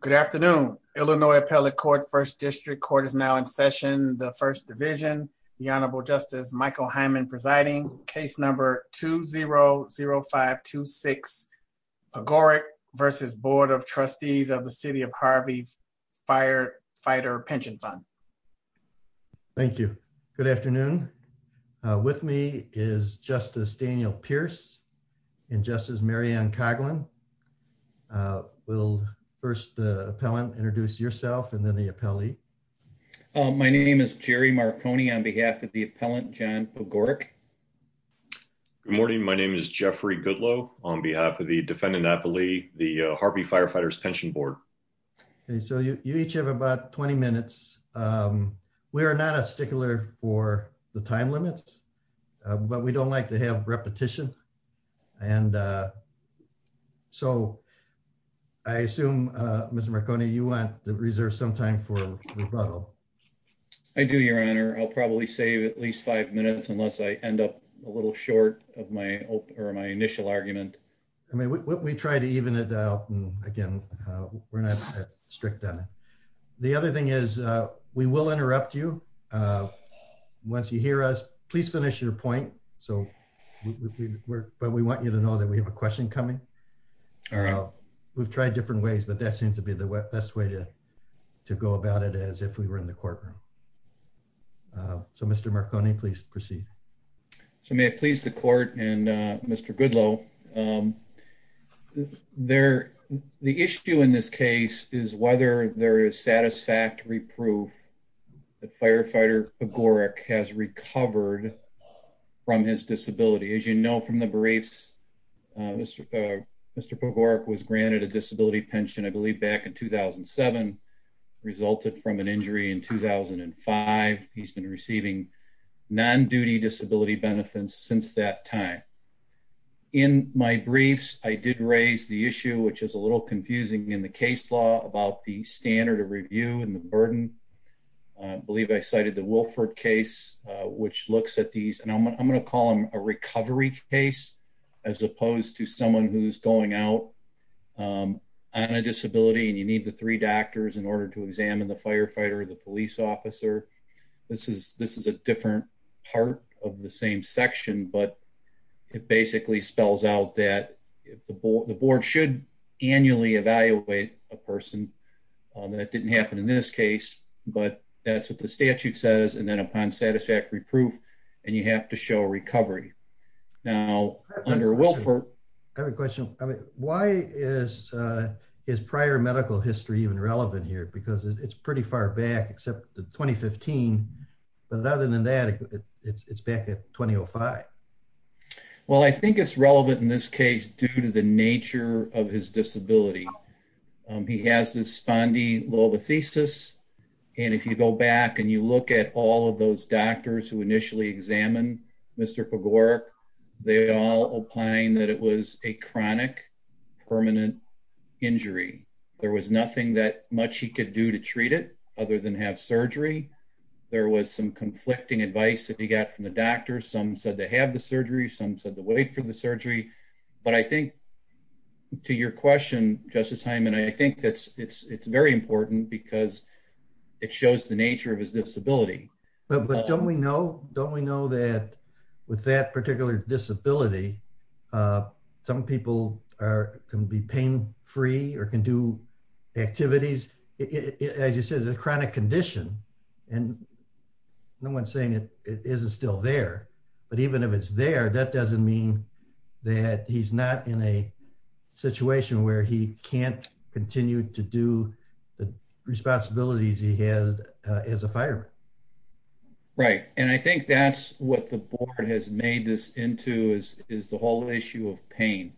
Good afternoon. Illinois Appellate Court, 1st District Court is now in session. The 1st Division, the Honorable Justice Michael Hyman presiding, case number 2-0-0-5-2-6, Agoric versus Board of Trustees of the City of Harvey Firefighter Pension Fund. Thank you. Good afternoon. With me is Justice Daniel Pierce and Justice Mary Ann Coughlin. We'll first the appellant introduce yourself and then the appellee. My name is Jerry Marconi on behalf of the appellant, John Agoric. Good morning. My name is Jeffrey Goodloe on behalf of the defendant appellee, the Harvey Firefighters Pension Board. Okay, so you each have about 20 minutes. We are not a stickler for the time limits, but we don't like to have repetition and so I assume, Mr. Marconi, you want to reserve some time for rebuttal. I do, your honor. I'll probably save at least five minutes unless I end up a little short of my initial argument. I mean we try to even it out and again we're not strict on it. The other thing is we will interrupt you once you hear us. Please finish your point. But we want you to know that we have a question coming. We've tried different ways, but that seems to be the best way to to go about it as if we were in the courtroom. So Mr. Marconi, please proceed. So may it please the court and Mr. Goodloe. The issue in this case is whether there is satisfactory proof that Firefighter Pogorek has recovered from his disability. As you know from the briefs, Mr. Pogorek was granted a disability pension I believe back in 2007, resulted from an injury in 2005. He's been receiving non-duty disability benefits since that time. In my briefs, I did raise the issue which is a little confusing in the case law about the standard of review and the burden. I believe I cited the Wilford case which looks at these and I'm going to call them a recovery case as opposed to someone who's going out on a disability and you need the three doctors in order to examine the firefighter or the police officer. This is a different part of the same section, but it basically spells out that the board should annually evaluate a person. That didn't happen in this case, but that's what the statute says and then upon satisfactory proof and you have to show a recovery. Now under Wilford... I have a question. I mean why is his prior medical history even relevant here because it's pretty far back except the 2015, but other than that it's back at 2005. Well I think it's relevant in this case due to the nature of his disability. He has this spondylolisthesis and if you go back and you look at all of those doctors who initially examined Mr. Pogorek, they all opine that it was a chronic permanent injury. There was nothing that much he could do to treat it other than have surgery. There was some conflicting advice that he got from the doctors. Some said to But I think to your question, Justice Hyman, I think that's it's very important because it shows the nature of his disability. But don't we know that with that particular disability, some people can be pain-free or can do activities. As you said, it's a chronic condition and no one's saying it isn't still there, but even if it's there, that doesn't mean that he's not in a situation where he can't continue to do the responsibilities he has as a fireman. Right and I think that's what the board has made this into is the whole issue of pain.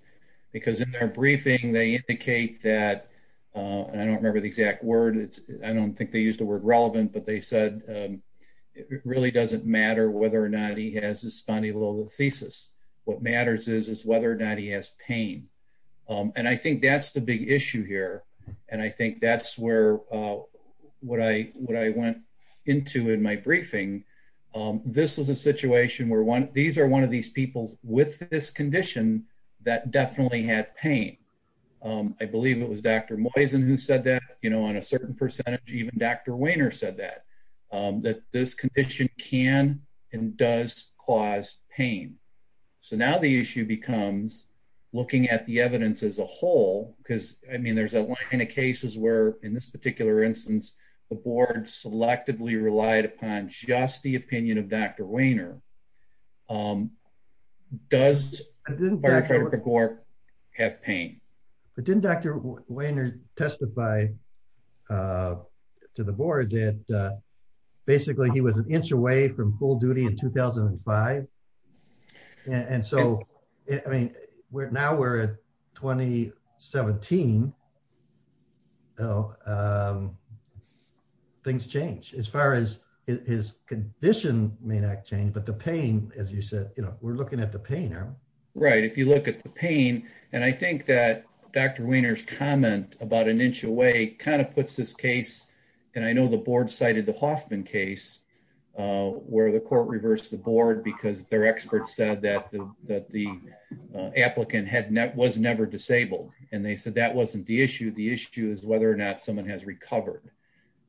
Because in their briefing they indicate that, and I don't remember the exact word, I don't think they used the word thesis. What matters is is whether or not he has pain. And I think that's the big issue here and I think that's where what I went into in my briefing. This was a situation where these are one of these people with this condition that definitely had pain. I believe it was Dr. Moisen who said that, you know, on a certain percentage even Dr. Weiner said that, that this condition can and does cause pain. So now the issue becomes looking at the evidence as a whole because, I mean, there's a line of cases where in this particular instance the board selectively relied upon just the opinion of Dr. Weiner. Does Firefighter Gork have pain? But didn't Dr. Weiner testify to the board that basically he was an inch away from full duty in 2005? And so, I mean, we're now we're at 2017. Things change as far as his condition may not change but the pain, as you said, you know, we're looking at the pain. Right, if you look at the pain and I kind of put this case and I know the board cited the Hoffman case where the court reversed the board because their experts said that that the applicant was never disabled. And they said that wasn't the issue. The issue is whether or not someone has recovered.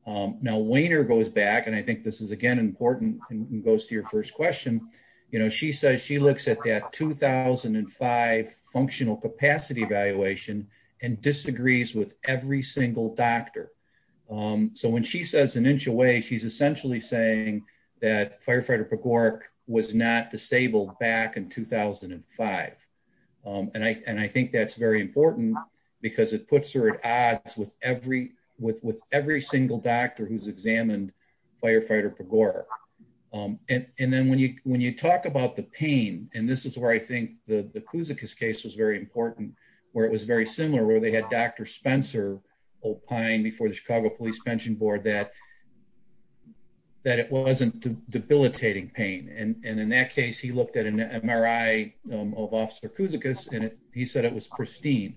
Now Weiner goes back and I think this is again important and goes to your first question. You know, she says she looks at that 2005 functional capacity evaluation and disagrees with every single doctor. So when she says an inch away she's essentially saying that Firefighter Gork was not disabled back in 2005. And I think that's very important because it puts her at odds with every single doctor who's examined Firefighter Gork. And then when you talk about the pain and this is where I think the Kouzakis case was very important where it was very similar where they had Dr. Spencer opine before the Chicago Police Pension Board that that it wasn't debilitating pain. And in that case he looked at an MRI of Officer Kouzakis and he said it was pristine.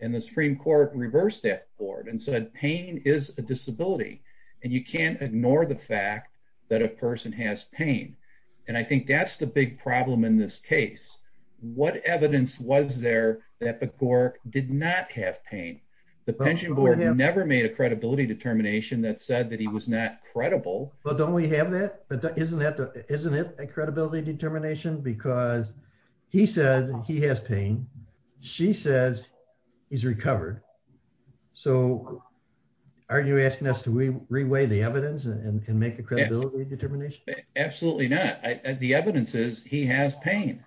And the Supreme Court reversed that board and said pain is a disability and you can't ignore the fact that a person has pain. And I think that's the big problem in this case. What evidence was there that the Gork did not have pain? The pension board never made a credibility determination that said that he was not credible. Well don't we have that? But isn't that isn't it a credibility determination? Because he says he has pain. She says he's recovered. So aren't you asking us to re-weigh the evidence and make a credibility determination? Absolutely not. The evidence is he has pain.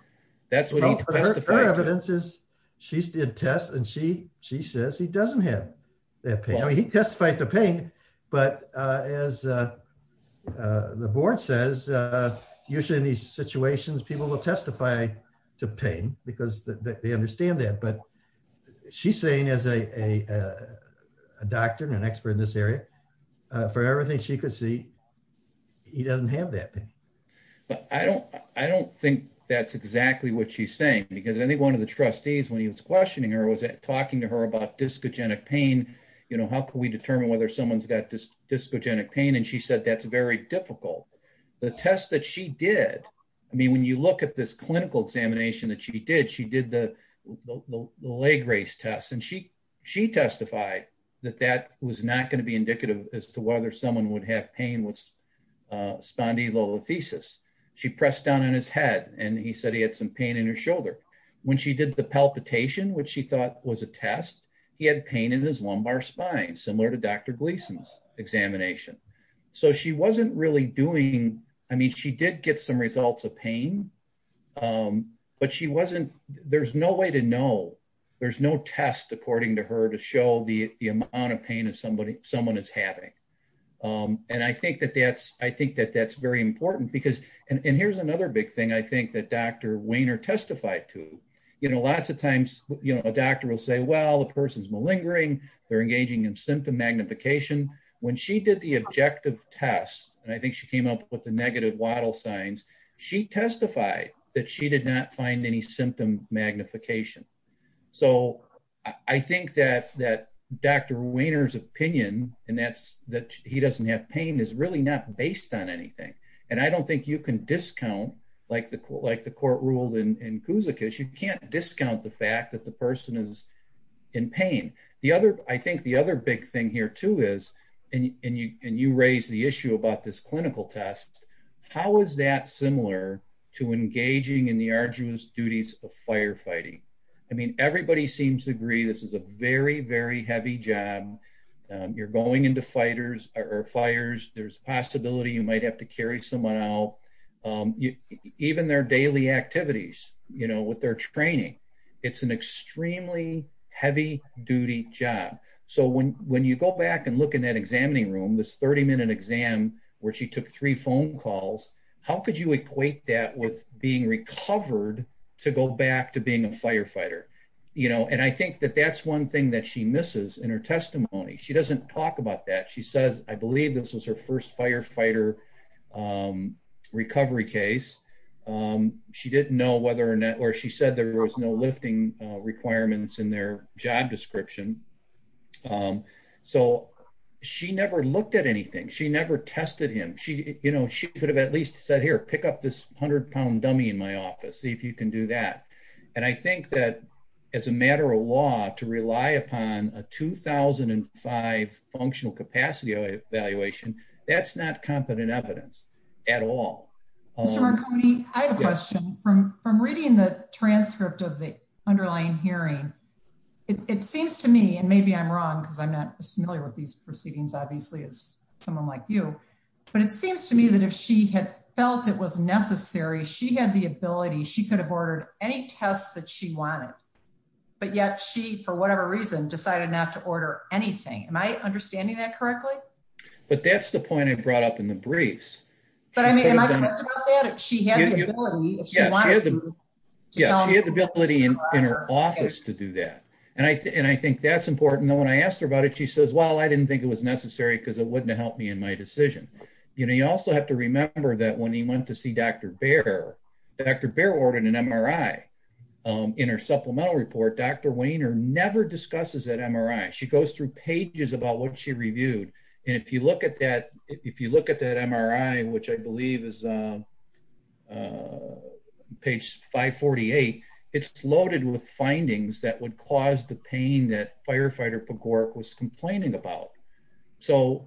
That's what he testified to. Her evidence is she did tests and she she says he doesn't have that pain. I mean he testifies to pain but as the board says usually in these situations people will testify to pain because they understand that. She's saying as a a doctor and an expert in this area for everything she could see he doesn't have that pain. But I don't I don't think that's exactly what she's saying because I think one of the trustees when he was questioning her was talking to her about discogenic pain you know how can we determine whether someone's got this discogenic pain and she said that's very difficult. The test that she did I mean when you look at this clinical examination that did she did the the leg race test and she she testified that that was not going to be indicative as to whether someone would have pain with spondylolisthesis. She pressed down on his head and he said he had some pain in his shoulder. When she did the palpitation which she thought was a test he had pain in his lumbar spine similar to Dr. Gleason's examination. So she wasn't really doing I mean she did get some results of pain but she wasn't there's no way to know there's no test according to her to show the the amount of pain as somebody someone is having. And I think that that's I think that that's very important because and here's another big thing I think that Dr. Wehner testified to you know lots of times you know a doctor will say well the person's malingering they're engaging in symptom magnification. When she did the objective test and I signs she testified that she did not find any symptom magnification. So I think that that Dr. Wehner's opinion and that's that he doesn't have pain is really not based on anything. And I don't think you can discount like the court like the court ruled in Kouzakis you can't discount the fact that the person is in pain. The other I think the other big thing here too is and you and you raise the issue about this clinical test. How is that similar to engaging in the arduous duties of firefighting? I mean everybody seems to agree this is a very very heavy job you're going into fighters or fires there's possibility you might have to carry someone out even their daily activities you know with their training it's an extremely heavy duty job. So when when you go back and look in examining room this 30 minute exam where she took three phone calls how could you equate that with being recovered to go back to being a firefighter? You know and I think that that's one thing that she misses in her testimony. She doesn't talk about that. She says I believe this was her first firefighter recovery case. She didn't know whether or not or she said there was no lifting requirements in their job description. So she never looked at anything. She never tested him. She you know she could have at least said here pick up this 100 pound dummy in my office see if you can do that. And I think that as a matter of law to rely upon a 2005 functional capacity evaluation that's not competent evidence at all. Mr. Marconi I have a question from from reading the hearing. It seems to me and maybe I'm wrong because I'm not as familiar with these proceedings obviously as someone like you but it seems to me that if she had felt it was necessary she had the ability she could have ordered any tests that she wanted but yet she for whatever reason decided not to order anything. Am I understanding that correctly? But that's the point I brought up in the briefs. But I mean she had the ability in her office to do that and I and I think that's important. When I asked her about it she says well I didn't think it was necessary because it wouldn't help me in my decision. You know you also have to remember that when he went to see Dr. Baer Dr. Baer ordered an MRI. In her supplemental report Dr. Wainer never discusses that MRI. She goes through pages about what she reviewed and if you look at that if you look at that MRI which I believe is page 548 it's loaded with findings that would cause the pain that firefighter Pogorek was complaining about. So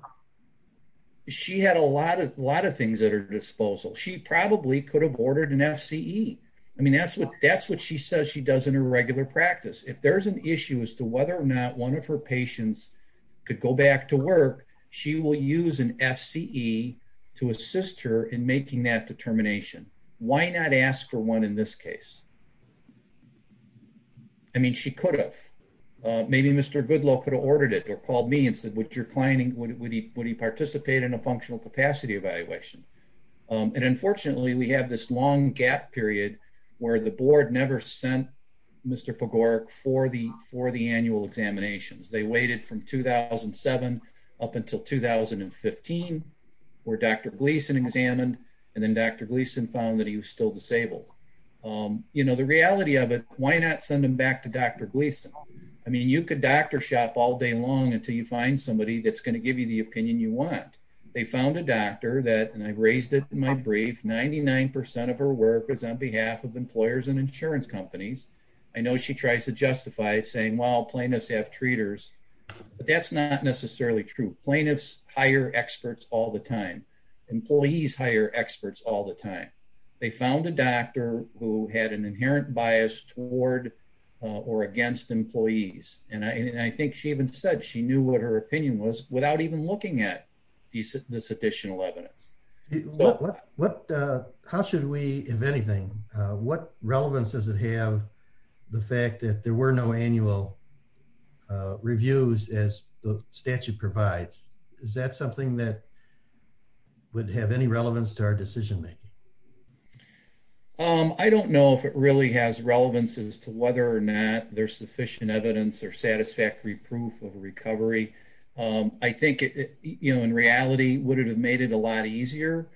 she had a lot of a lot of things at her disposal. She probably could have ordered an FCE. I mean that's what that's what she says she does in her regular practice. If there's an issue as to whether or not one of her patients could go back to work she will use an FCE to assist her in making that determination. Why not ask for one in this case? I mean she could have. Maybe Mr. Goodlow could have ordered it or called me and said would your client would he participate in a functional capacity evaluation? And unfortunately we have this long gap period where the board never sent Mr. Pogorek for the for the annual examinations. They waited from 2007 up until 2015 where Dr. Gleason examined and then Dr. Gleason found that he was still disabled. You know the reality of it why not send him back to Dr. Gleason? I mean you could doctor shop all day long until you find somebody that's going to give you the opinion you want. They found a doctor that and I raised it in my brief. 99 percent of her work is on behalf of employers and insurance companies. I know she tries to justify it saying well plaintiffs have treaters but that's not necessarily true. Plaintiffs hire experts all the time. Employees hire experts all the time. They found a doctor who had an inherent bias toward or against employees and I think she even said she knew what her opinion was without even looking at this additional evidence. How should we if anything what the fact that there were no annual reviews as the statute provides is that something that would have any relevance to our decision making? I don't know if it really has relevance as to whether or not there's sufficient evidence or satisfactory proof of recovery. I think it you know in reality would it have made it a lot easier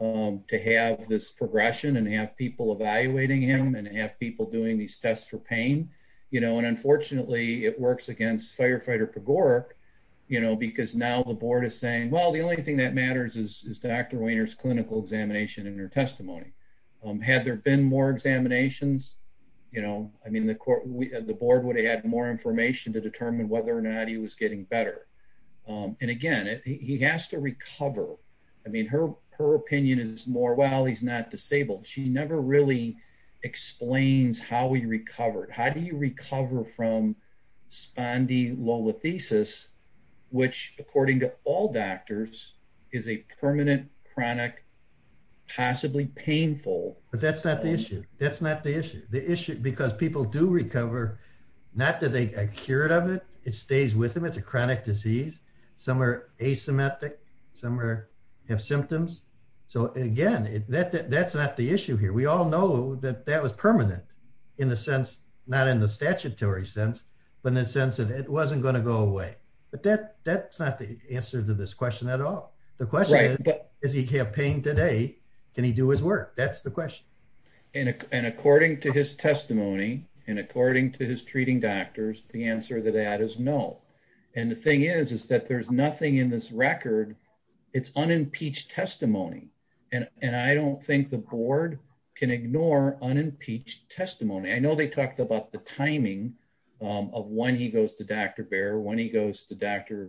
to have this progression and have people evaluating him and have people doing these tests for pain you know and unfortunately it works against firefighter Pagore you know because now the board is saying well the only thing that matters is Dr. Weiner's clinical examination in her testimony. Had there been more examinations you know I mean the court the board would have had more information to determine whether or not he was getting better and again he has to recover. I mean her her opinion is more well he's not disabled. She never really explains how he recovered. How do you recover from spondylolisthesis which according to all doctors is a permanent chronic possibly painful. But that's not the issue that's not the issue the issue because people do recover not that they cured of it it stays with it's a chronic disease some are asymmetric some are have symptoms so again that that's not the issue here we all know that that was permanent in the sense not in the statutory sense but in the sense that it wasn't going to go away but that that's not the answer to this question at all. The question is does he have pain today can he do his work that's the question. And according to his testimony and according to his treating doctors the answer to that is no. And the thing is is that there's nothing in this record it's unimpeached testimony and and I don't think the board can ignore unimpeached testimony. I know they talked about the timing of when he goes to Dr. Baer when he goes to Dr.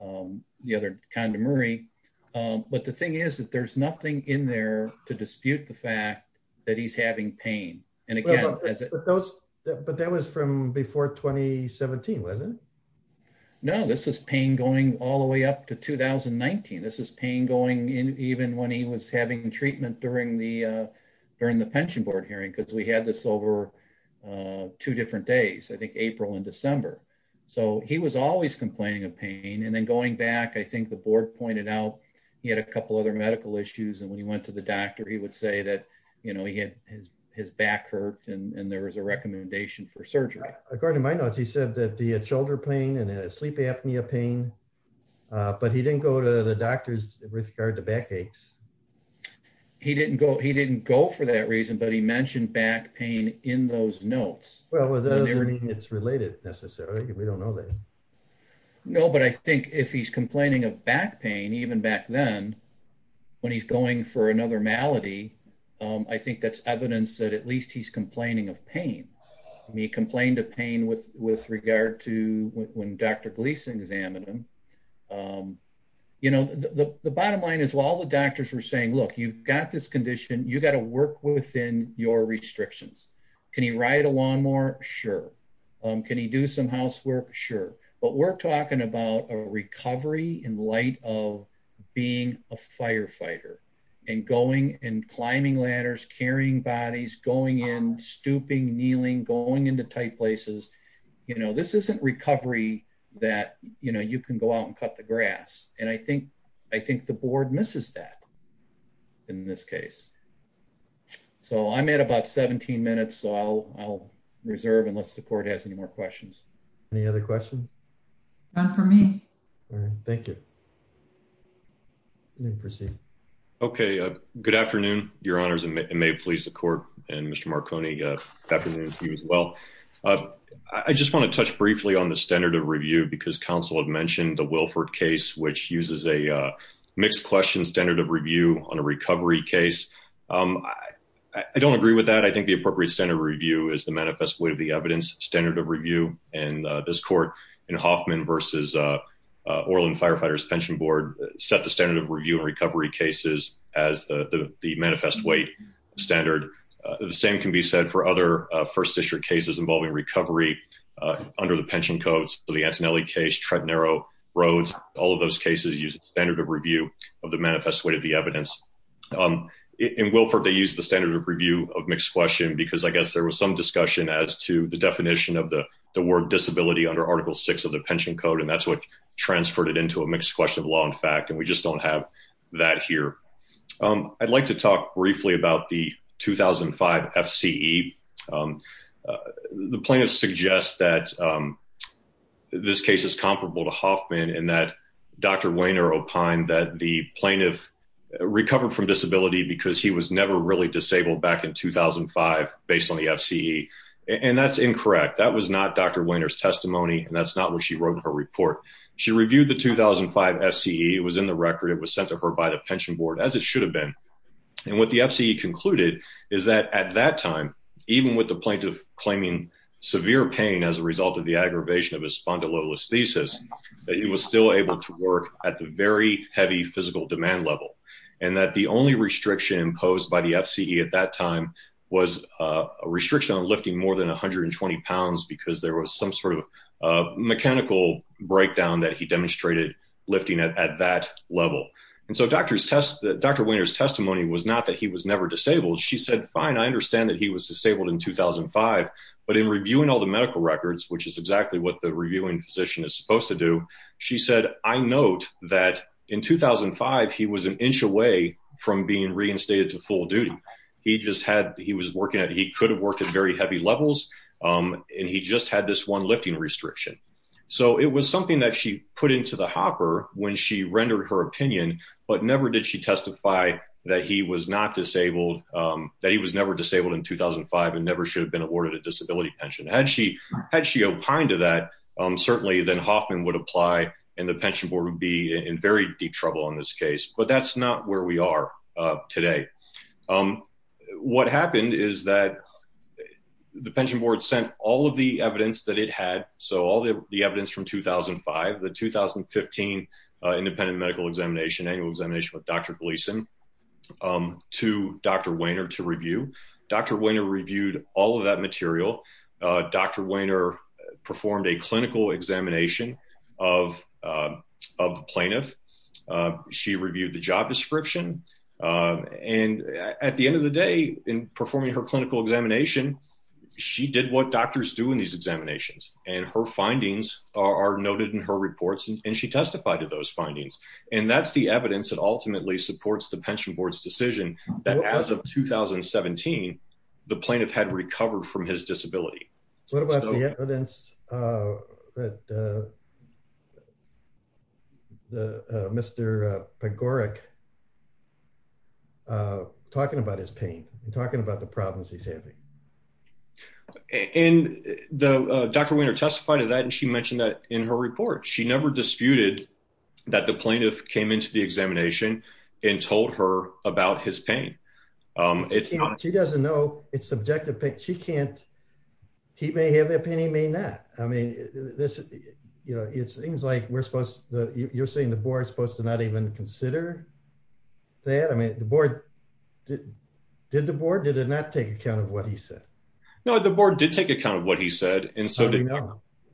the other Condemary but the thing is that there's nothing in there to dispute the fact that he's having pain and again. But that was from before 2017 wasn't it? No this is pain going all the way up to 2019 this is pain going in even when he was having treatment during the during the pension board hearing because we had this over two different days I think April and December. So he was always complaining of pain and then going back I think the board pointed out he had a couple other medical issues and when he went to the doctor he would say that you know he had his his back hurt and there was a recommendation for surgery. According to my notes he said that the shoulder pain and sleep apnea pain but he didn't go to the doctor's with regard to back aches. He didn't go he didn't go for that reason but he mentioned back pain in those notes. Well that doesn't mean it's related necessarily we don't know that. No but I think if he's complaining of back pain even back then when he's going for another malady I think that's evidence that at least he's complaining of pain. He complained of pain with with regard to when Dr. Gleason examined him. You know the bottom line is while the doctors were saying look you've got this condition you got to work within your restrictions. Can he ride a lawnmower? Sure. Can he do some housework? Sure. But we're talking about a recovery in light of being a firefighter and going and climbing ladders carrying bodies going in stooping kneeling going into tight places. You know this isn't recovery that you know you can go out and cut the grass and I think I think the board misses that in this case. So I'm at about 17 minutes so I'll I'll reserve unless the court has any questions. Any other questions? None for me. All right thank you. Let me proceed. Okay good afternoon your honors and may it please the court and Mr. Marconi good afternoon to you as well. I just want to touch briefly on the standard of review because counsel had mentioned the Wilford case which uses a mixed question standard of review on a recovery case. I don't agree with that I think the appropriate standard review is the manifest way of the evidence standard of review and this court in Hoffman versus Orland Firefighters Pension Board set the standard of review and recovery cases as the the manifest weight standard. The same can be said for other first district cases involving recovery under the pension codes for the Antonelli case Trent Narrow Roads all of those cases use standard of review of the manifest way of the evidence. In Wilford they use the standard of review of mixed question because I guess there was some discussion as to the definition of the the word disability under article 6 of the pension code and that's what transferred it into a mixed question of law in fact and we just don't have that here. I'd like to talk briefly about the 2005 FCE. The plaintiff suggests that this case is comparable to Hoffman in that Dr. Wainer opined that the plaintiff recovered from disability because he was never really disabled back in 2005 based on the FCE and that's incorrect that was not Dr. Wainer's testimony and that's not where she wrote her report. She reviewed the 2005 FCE it was in the record it was sent to her by the pension board as it should have been and what the FCE concluded is that at that time even with the plaintiff claiming severe pain as a result of the aggravation of his spondylolisthesis that he was still able to work at the very heavy physical demand level and that the only restriction imposed by the FCE at that time was a restriction on lifting more than 120 pounds because there was some sort of a mechanical breakdown that he demonstrated lifting at that level and so Dr. Wainer's testimony was not that he was never disabled she said fine I understand that he was disabled in 2005 but in reviewing all the medical records which is exactly what the reviewing physician is supposed to do she said I note that in 2005 he was an inch away from being reinstated to full duty he just had he was working at he could have worked at very heavy levels and he just had this one lifting restriction so it was something that she put into the hopper when she rendered her opinion but never did she testify that he was not disabled that he was never disabled in 2005 and never should have been awarded a disability pension had she had she opined to that certainly then Hoffman would apply and the pension board would be in very deep trouble in this case but that's not where we are today what happened is that the pension board sent all of the evidence that it had so all the evidence from 2005 the 2015 independent medical examination annual examination with Dr. Gleason to Dr. Wainer to review Dr. Wainer reviewed all of that material Dr. Wainer performed a clinical examination of of the plaintiff she reviewed the job description and at the end of the day in performing her clinical examination she did what doctors do in these examinations and her findings are noted in her reports and she testified to those findings and that's the evidence that ultimately supports the pension board's decision that as of 2017 the plaintiff had recovered from his disability what about the evidence uh that uh the uh Mr. Pagorek uh talking about his pain talking about the problems he's having and the Dr. Wainer testified to that and she mentioned that in her report she never disputed that the plaintiff came into the examination and told her about his pain um it's not she doesn't know it's subjective she can't he may have the opinion he may not I mean this you know it seems like we're supposed to you're saying the board's supposed to not even consider that I mean the board did the board did it not take account of what he said no the board did take account of what he said and so did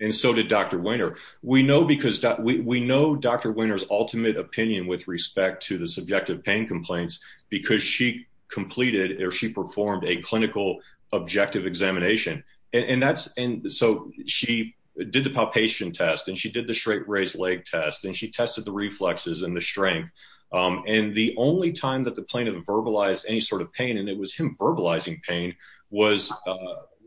and so did Dr. Wainer we know because we know Dr. Wainer's ultimate opinion with respect to the subjective pain complaints because she completed or she performed a clinical objective examination and that's and so she did the palpation test and she did the straight raised leg test and she tested the reflexes and the strength and the only time that the plaintiff verbalized any sort of pain and it was him verbalizing pain was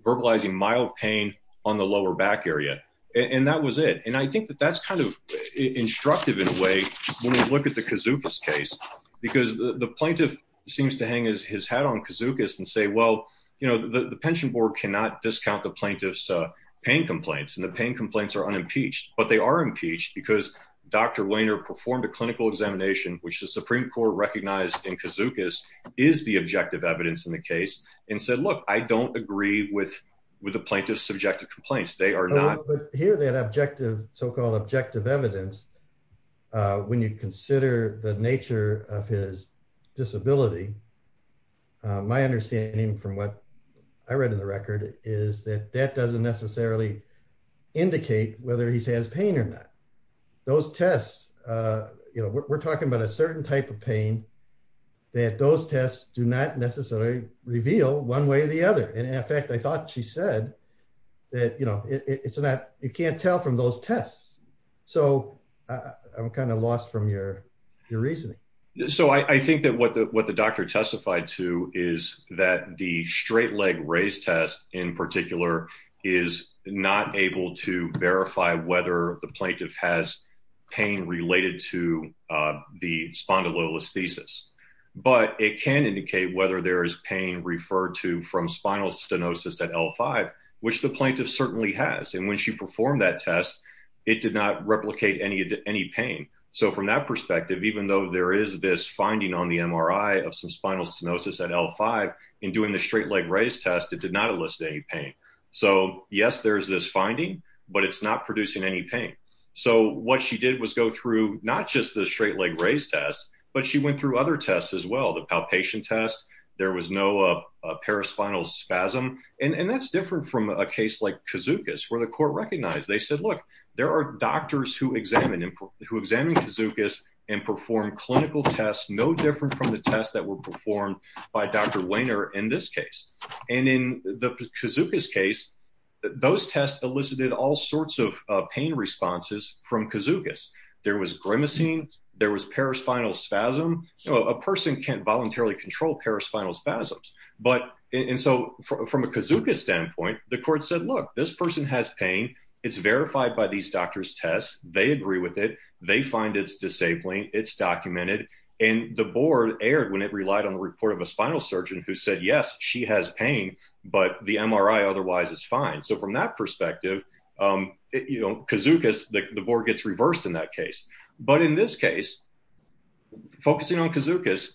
verbalizing mild pain on the lower back area and that was it and I think that that's kind of instructive in a way when we look at the Kizukis case because the plaintiff seems to hang his hat on Kizukis and say well you know the pension board cannot discount the plaintiff's pain complaints and the pain complaints are unimpeached but they are impeached because Dr. Wainer performed a clinical examination which the supreme court recognized in Kizukis is the objective evidence in the case and said look I don't agree with with the plaintiff's subjective complaints they are not but here that objective so-called objective evidence when you consider the nature of his disability my understanding from what I read in the record is that that doesn't necessarily indicate whether he has pain or not. Those tests you know we're talking about a certain type of pain that those tests do not necessarily reveal one way or the other and in fact I thought she said that you know it's not you can't tell from those tests so I'm kind of lost from your your reasoning. So I think that what the what the doctor testified to is that the straight leg raise test in particular is not able to verify whether the plaintiff has pain related to the spondylolisthesis but it can indicate whether there is pain referred to from spinal stenosis at L5 which the plaintiff certainly has and when she performed that test it did not replicate any pain so from that perspective even though there is this finding on the MRI of some spinal stenosis at L5 in doing the straight leg raise test it did not elicit any pain so yes there's this finding but it's not producing any pain so what she did was go through not just the straight leg raise test but she went through other tests as well the palpation test there was no paraspinal spasm and that's different from a case like kazookas where the court recognized they said look there are doctors who examine kazookas and perform clinical tests no different from the tests that were performed by Dr. Wainer in this case and in the kazookas case those tests elicited all sorts of pain responses from kazookas there was grimacing there was paraspinal spasm so a person can't voluntarily control paraspinal spasms but and so from a kazooka standpoint the court said look this person has pain it's verified by these doctors tests they agree with it they find it's disabling it's documented and the board erred when it relied on the report of a spinal surgeon who said yes she has pain but the MRI otherwise is fine so from that perspective um you know kazookas the board gets reversed in that case but in this case focusing on kazookas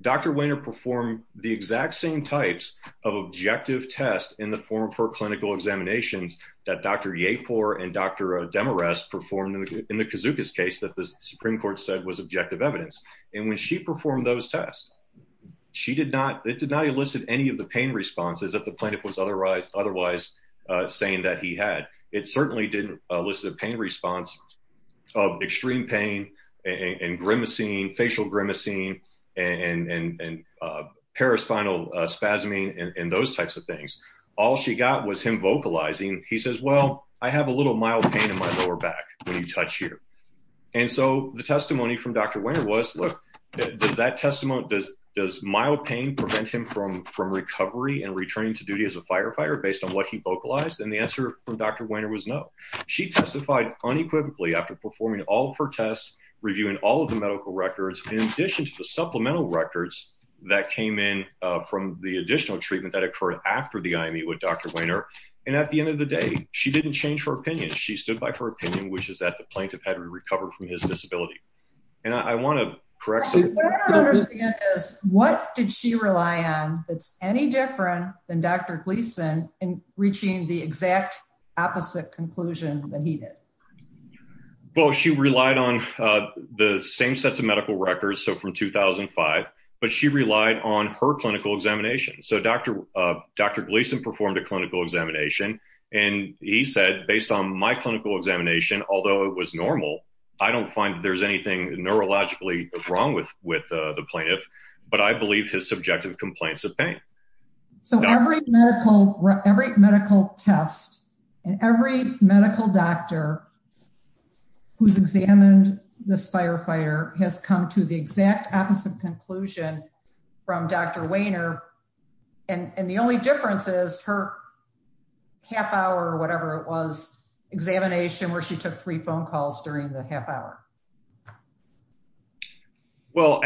Dr. Wainer performed the exact same types of objective tests in the form of her clinical examinations that Dr. Yapor and Dr. Demarest performed in the kazookas case that the supreme court said was objective evidence and when she performed those tests she did not it did not elicit any of the pain responses that the plaintiff was otherwise otherwise uh saying that he had it certainly didn't elicit a pain response of extreme pain and grimacing facial grimacing and and paraspinal spasming and those types of things all she got was him vocalizing he says well I have a little mild pain in my lower back when you touch here and so the testimony from Dr. Wainer was look does that testimony does does mild pain prevent him from from recovery and returning to duty as a firefighter based on what he vocalized and the answer from Dr. Wainer was no she testified unequivocally after performing all of her tests reviewing all of the medical records in addition to the supplemental records that came in from the additional treatment that occurred after the IME with Dr. Wainer and at the end of the day she didn't change her opinion she stood by her opinion which is that the plaintiff had recovered from his disability and I want to correct what did she rely on that's any different than Dr. Gleason in reaching the exact opposite conclusion that he did well she relied on the same sets of medical records so from 2005 but she relied on her clinical examination so Dr. Gleason performed a clinical examination and he said based on my clinical examination although it was normal I don't find there's anything neurologically wrong with with the plaintiff but I believe his subjective complaints of pain so every medical every medical test and every medical doctor who's examined this firefighter has come to the exact opposite conclusion from Dr. Wainer and and the only difference is her half hour or whatever it was examination where she took three phone calls during the half hour well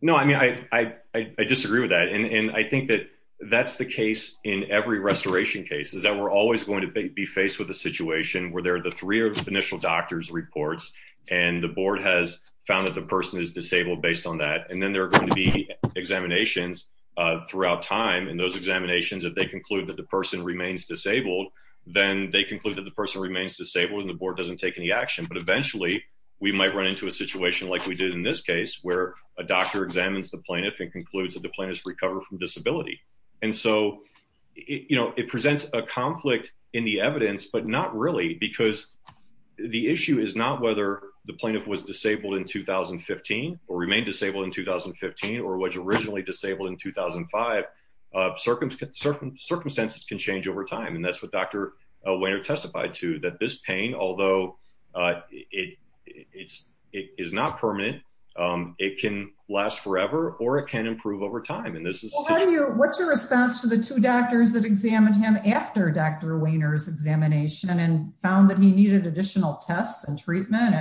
no I mean I I disagree with that and I think that that's the case in every restoration case is that we're always going to be faced with a situation where there are the three or the initial doctors reports and the board has found that the person is disabled based on that and then there are going to be examinations uh throughout time and those examinations if they conclude that the person remains disabled then they conclude that the person remains disabled and the board doesn't take any action but eventually we might run into a situation like we did in this case where a doctor examines the plaintiff and concludes that the plaintiff's recovered from disability and so you know it presents a conflict in the evidence but not really because the issue is not whether the plaintiff was disabled in 2015 or remained disabled in 2015 or was originally disabled in 2005 circumstances can change over time and that's what Dr. Wainer testified to that this pain although uh it it's it is not permanent um it can last forever or it can improve over time and this is what's your response to the two doctors that examined him after Dr. Wainer's examination and found that he needed additional tests and treatment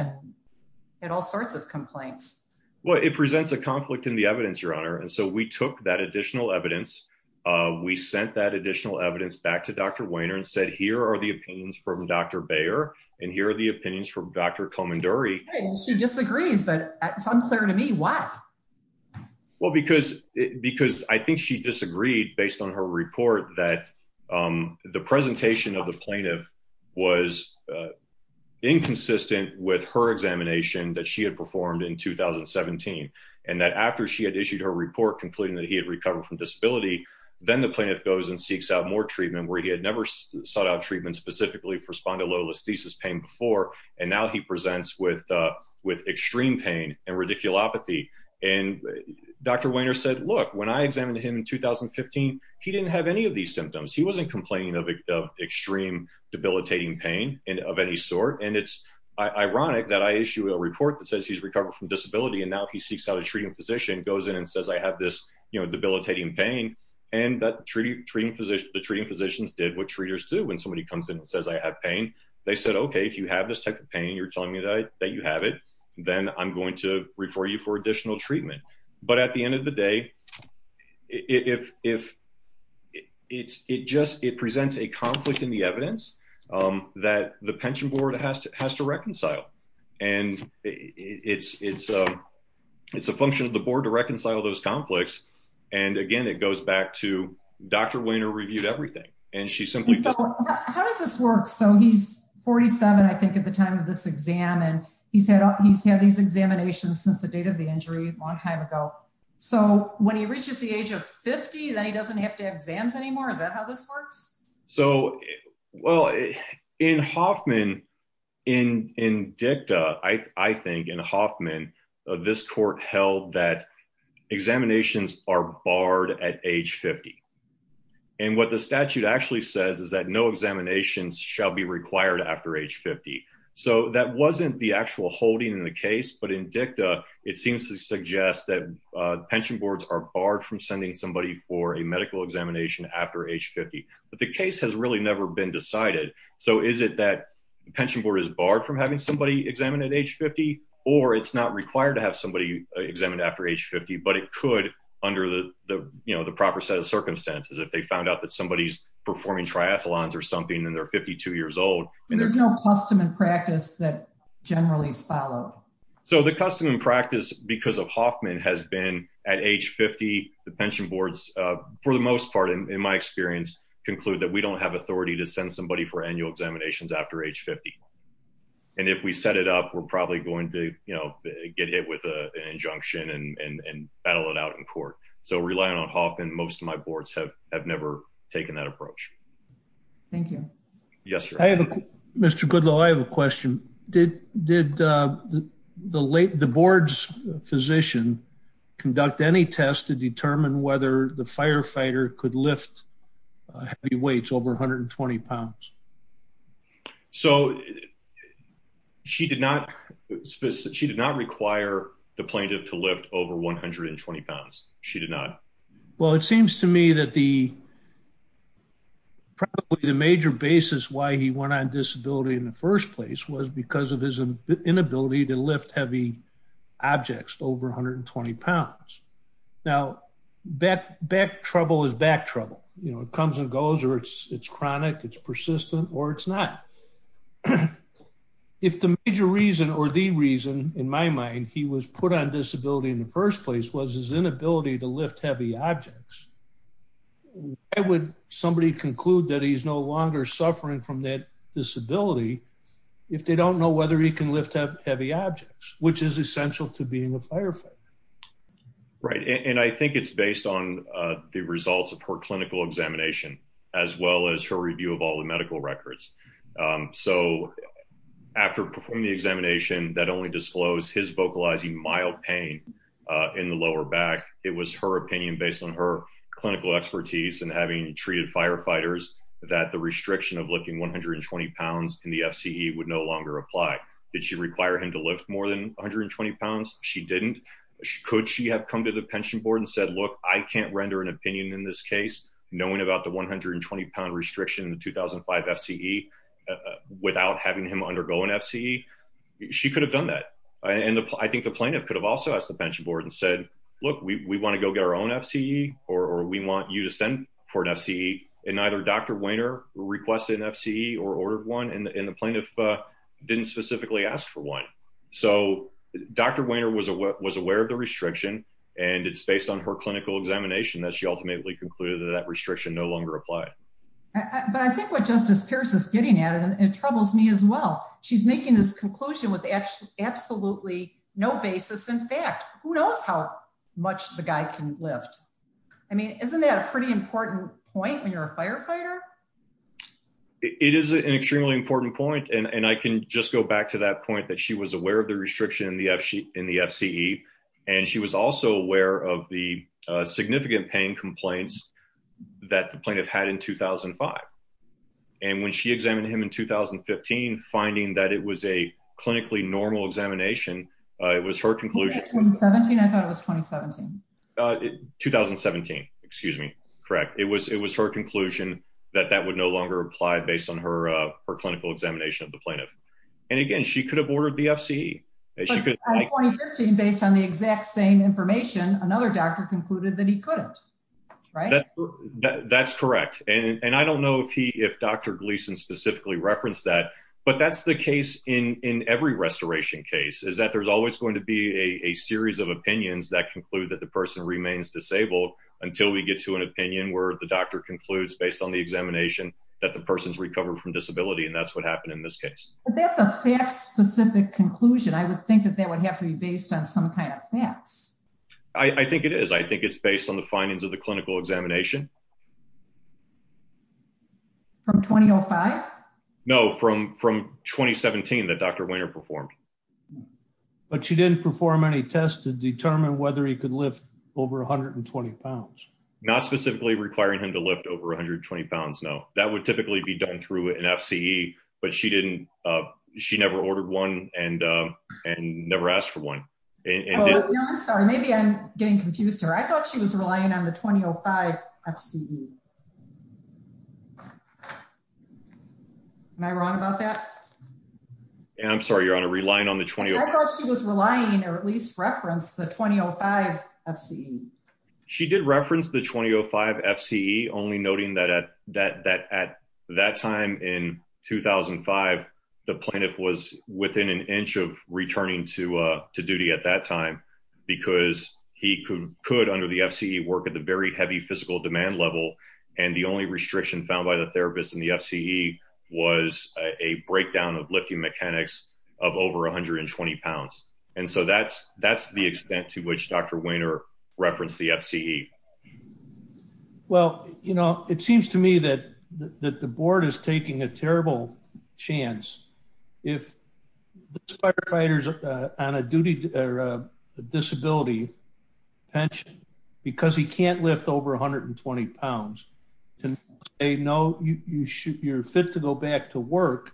and all sorts of complaints well it presents a conflict in the evidence your honor and so we took that additional evidence uh we sent that additional evidence back to Dr. Wainer and said here are the opinions from Dr. Bayer and here are the opinions from Dr. Comanduri she disagrees but it's unclear to me why well because because i think she disagreed based on her report that um the presentation of the plaintiff was inconsistent with her examination that she had performed in 2017 and that after she had issued her report concluding that he had recovered from disability then the plaintiff goes and seeks out more treatment where he had never sought out treatment specifically for spondylolisthesis pain before and now he presents with uh with extreme pain and radiculopathy and Dr. Wainer said look when i examined him in 2015 he didn't have any of these symptoms he wasn't complaining of extreme debilitating pain and of any sort and it's ironic that i issue a report that says he's recovered from disability and now he seeks out a treating physician goes in and says i have this you know debilitating pain and that treating physician the treating physicians did what treaters do when somebody comes in and says i have pain they said okay if you have this type of pain you're telling me that that you have it then i'm going to refer you for additional treatment but at the end of the day if if it's it just it presents a conflict in the evidence um that the pension board has to has to reconcile and it's it's a it's a function of the conflicts and again it goes back to Dr. Wainer reviewed everything and she simply how does this work so he's 47 i think at the time of this exam and he said he's had these examinations since the date of the injury a long time ago so when he reaches the age of 50 then he doesn't have to have exams anymore is that how this works so well in Hoffman in in dicta i i think in Hoffman this court held that examinations are barred at age 50 and what the statute actually says is that no examinations shall be required after age 50 so that wasn't the actual holding in the case but in dicta it seems to suggest that pension boards are barred from sending somebody for a medical examination after age 50 but the case has really never been decided so is it that the pension board is barred from having somebody examined at age 50 or it's not required to have somebody examined after age 50 but it could under the the you know the proper set of circumstances if they found out that somebody's performing triathlons or something and they're 52 years old there's no custom and practice that generally is followed so the custom and practice because of Hoffman has been at age 50 the pension boards for the most part in my experience conclude that we don't have authority to send somebody for annual examinations after age 50 and if we set it up we're probably going to you know get hit with a injunction and and battle it out in court so relying on Hoffman most of my boards have have never taken that approach thank you yes i have a mr goodlow i have a question did did uh the late the board's physician conduct any test to determine whether the firefighter could lift heavy weights over 120 pounds so she did not she did not require the plaintiff to lift over 120 pounds she did not well it seems to me that the probably the major basis why he went on disability in the first place was because of his inability to lift heavy objects over 120 pounds now that back trouble is back trouble you know it comes and goes or it's it's chronic it's persistent or it's not if the major reason or the reason in my mind he was put on disability in the first place was his inability to lift heavy objects why would somebody conclude that he's no longer suffering from that disability if they don't know whether he can lift up heavy objects which is right right and i think it's based on uh the results of her clinical examination as well as her review of all the medical records um so after performing the examination that only disclosed his vocalizing mild pain uh in the lower back it was her opinion based on her clinical expertise and having treated firefighters that the restriction of lifting 120 pounds in the fce would no longer apply did she require him to lift more than 120 pounds she didn't could she have come to the pension board and said look i can't render an opinion in this case knowing about the 120 pound restriction in the 2005 fce without having him undergo an fce she could have done that and i think the plaintiff could have also asked the pension board and said look we want to go get our own fce or we want you to send for an fce and either dr wainer requested an fce or ordered one and the plaintiff didn't specifically ask for one so dr wainer was aware of the restriction and it's based on her clinical examination that she ultimately concluded that restriction no longer applied but i think what justice pierce is getting at and it troubles me as well she's making this conclusion with actually absolutely no basis in fact who knows how much the guy can lift i mean isn't that a pretty important point when you're a firefighter it is an extremely important point and and i can just go back to that point that she was aware of the restriction in the fc in the fce and she was also aware of the significant pain complaints that the plaintiff had in 2005 and when she examined him in 2015 finding that it was a clinically normal examination it was her conclusion i thought it was 2017 2017 excuse me correct it was it was her conclusion that that would no longer apply based on her uh her clinical examination of the plaintiff and again she could have ordered the fce she could based on the exact same information another doctor concluded that he couldn't right that that's correct and and i don't know if he if dr gleason specifically referenced that but that's the case in in every restoration case is that there's always going to be a a series of opinions that conclude that the person remains disabled until we get to an opinion where the concludes based on the examination that the person's recovered from disability and that's what happened in this case but that's a fact specific conclusion i would think that that would have to be based on some kind of facts i i think it is i think it's based on the findings of the clinical examination from 2005 no from from 2017 that dr winter performed but she didn't perform any tests to determine whether he could lift over 120 pounds not specifically requiring him to lift over 120 pounds no that would typically be done through an fce but she didn't uh she never ordered one and uh and never asked for one and i'm sorry maybe i'm getting confused here i thought she was relying on the 2005 fce am i wrong about that yeah i'm sorry your honor relying on the 20 i thought she was relying or at least referenced the 2005 fce she did reference the 2005 fce only noting that at that that at that time in 2005 the plaintiff was within an inch of returning to uh to duty at that time because he could could under the fce work at the very heavy physical demand level and the only restriction found by the therapist in the fce was a breakdown of lifting mechanics of over 120 pounds and so that's that's the extent to which dr wiener referenced the fce well you know it seems to me that that the board is taking a terrible chance if the firefighters on a duty or a disability pension because he can't lift over 120 pounds to say no you you should you're fit to go back to work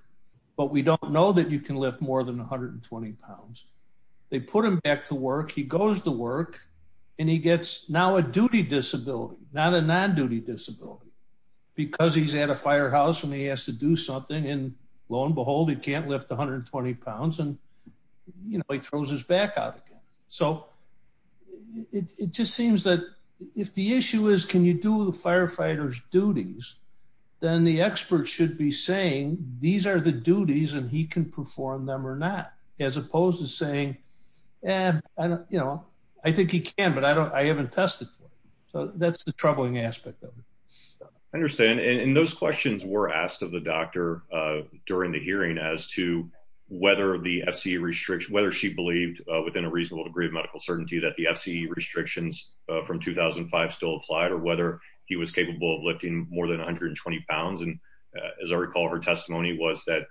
but we don't know that you can lift more than 120 pounds they put him back to work he goes to work and he gets now a duty disability not a non-duty disability because he's at a firehouse and he has to do something and lo and behold he can't lift 120 pounds and you know he throws his back out again so it just seems that if the issue is can you do the firefighters duties then the expert should be saying these are the duties and he can perform them or not as opposed to saying and i don't you know i think he can but i don't i haven't tested for it so that's the troubling aspect of it i understand and those questions were asked of the doctor uh during the hearing as to whether the fce restriction whether she believed within a reasonable degree of medical certainty that the fce restrictions from 2005 still applied or whether he was capable of lifting more than 120 pounds and as i recall her testimony was that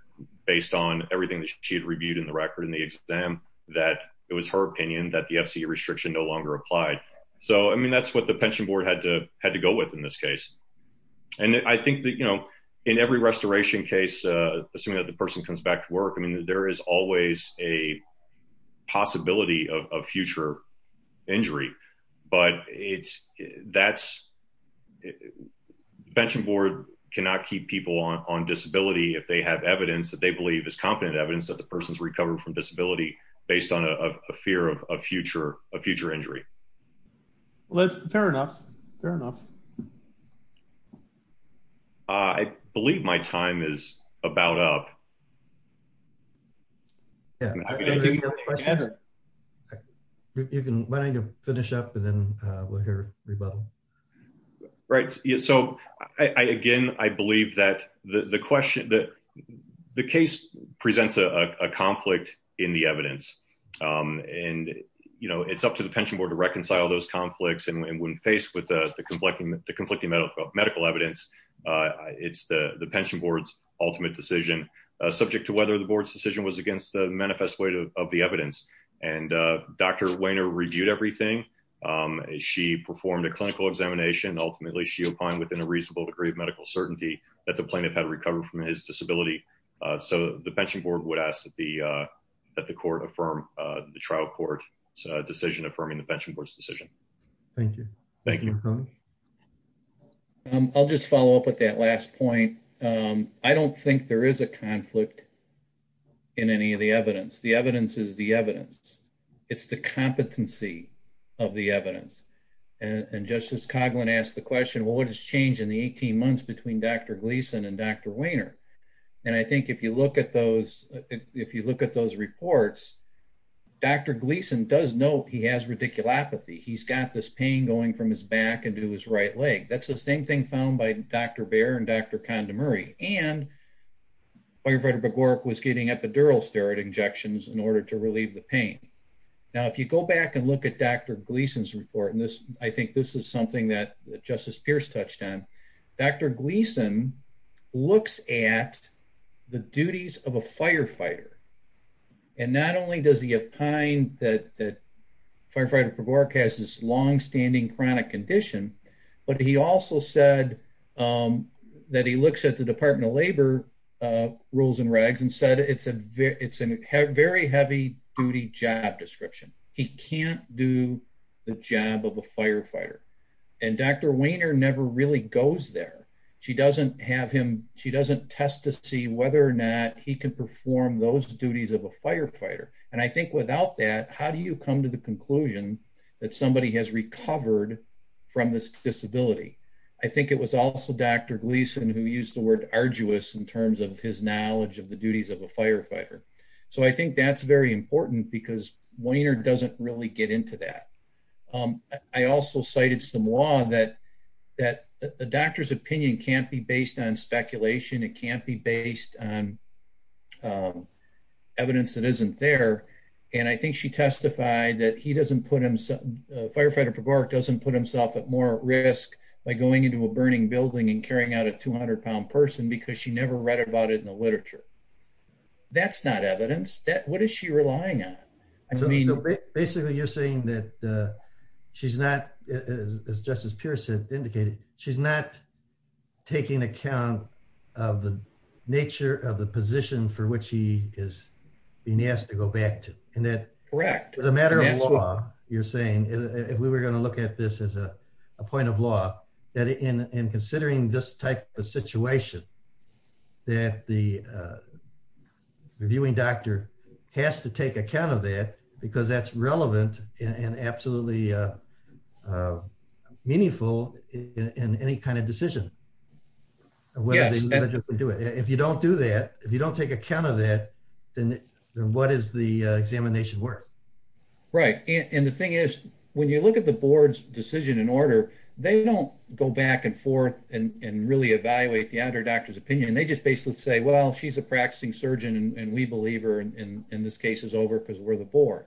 based on everything that she had reviewed in the record in the exam that it was her opinion that the fce restriction no longer applied so i mean that's what the pension board had to had to go with in this case and i think that you know in every restoration case assuming that the person comes back to work i mean there is always a possibility of future injury but it's that's pension board cannot keep people on disability if they have evidence that they believe is competent evidence that the person's recovered from disability based on a fear of a future a future injury well that's fair enough fair enough i believe my time is about up yeah you can why don't you finish up and then we'll hear rebuttal right yeah so i again i believe that the the question that the case presents a a conflict in the evidence um and you know it's up to the pension board to reconcile those conflicts and when faced with the conflicting the conflicting medical medical evidence uh it's the the pension board's ultimate decision subject to whether the board's decision was against the manifest weight of the evidence and uh dr weiner reviewed everything um she performed a clinical examination ultimately she opined within a reasonable degree of medical certainty that the plaintiff had recovered from his disability uh so the pension board would ask that the uh that the court affirm uh the trial court's decision affirming the pension board's decision thank you thank you um i'll just follow up with that last point um i don't think there is a conflict in any of the evidence the evidence is the evidence it's the competency of the evidence and justice coghlan asked the question well what has changed in the 18 months between dr gleason and dr weiner and i think if you look at those if you look at those reports dr gleason does note he has radiculopathy he's got this pain going from his back into his right leg that's the same thing found by dr bear and dr condo murray and firefighter begork was getting epidural steroid injections in order to relieve the pain now if you go back and look at dr gleason's report and this i think this is something that justice pierce touched on dr gleason looks at the duties of a firefighter and not only does he opine that that firefighter borg has this long-standing chronic condition but he also said um that he looks at the department of labor uh rules and rags and said it's a it's a very heavy duty job description he can't do the job of a firefighter and dr weiner never really goes there she doesn't have him she doesn't test to see whether or not he can perform those duties of a firefighter and i think without that how do you come to the conclusion that somebody has recovered from this disability i think it was also dr gleason who used the word arduous in terms of his knowledge of the duties of a firefighter so i think that's very important because weiner doesn't really get into that um i also cited some law that that the doctor's opinion can't be based on speculation it can't be based on evidence that isn't there and i think she testified that he doesn't put himself firefighter park doesn't put himself at more risk by going into a burning building and carrying out a 200 pound person because she never read about it in the literature that's not evidence that what is she relying on i mean basically you're saying that uh she's not as justice pierce said indicated she's not taking account of the nature of the position for which he is being asked to go back to and that correct as a matter of law you're saying if we were going to look at this as a a point of law that in in considering this type of situation that the uh reviewing doctor has to take account of that because that's relevant and absolutely uh meaningful in any kind of decision whether they do it if you don't do that if you don't take account of that then what is the examination worth right and the thing is when you look at the board's decision in order they don't go back and forth and and really evaluate the other doctor's opinion they just basically say well she's a practicing surgeon and we believe her and in this case is over because we're the board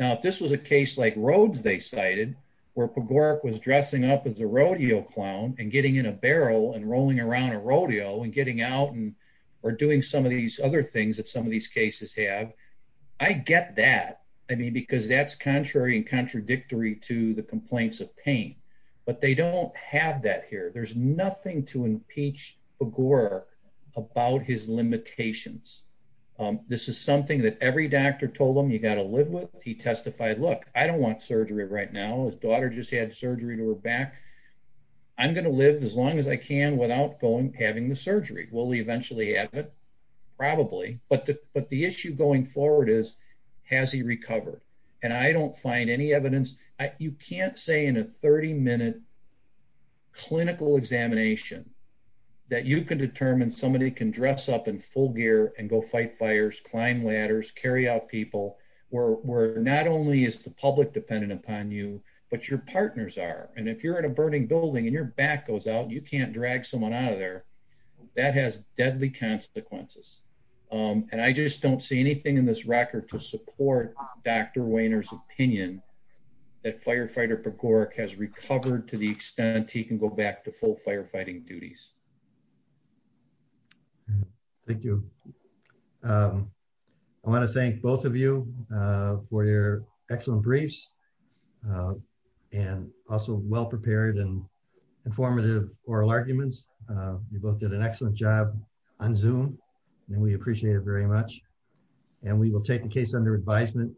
now if this was a case like roads they cited where pagoric was dressing up as a rodeo clown and getting in a barrel and rolling around a rodeo and getting out and or doing some of these other things that some of these cases have i get that i mean because that's contrary and contradictory to the but they don't have that here there's nothing to impeach agora about his limitations this is something that every doctor told them you got to live with he testified look i don't want surgery right now his daughter just had surgery to her back i'm going to live as long as i can without going having the surgery will he eventually have it probably but but the issue going forward is has he recovered and i don't find any evidence you can't say in a 30 minute clinical examination that you can determine somebody can dress up in full gear and go fight fires climb ladders carry out people where where not only is the public dependent upon you but your partners are and if you're in a burning building and your back goes out you can't drag someone out of there that has deadly consequences um and i just don't see anything in this record to support dr weiner's opinion that firefighter begork has recovered to the extent he can go back to full firefighting duties thank you um i want to thank both of you uh for your excellent briefs and also well prepared and informative oral arguments uh you both did an excellent job on zoom and we appreciate it very much and we will take the case under advisement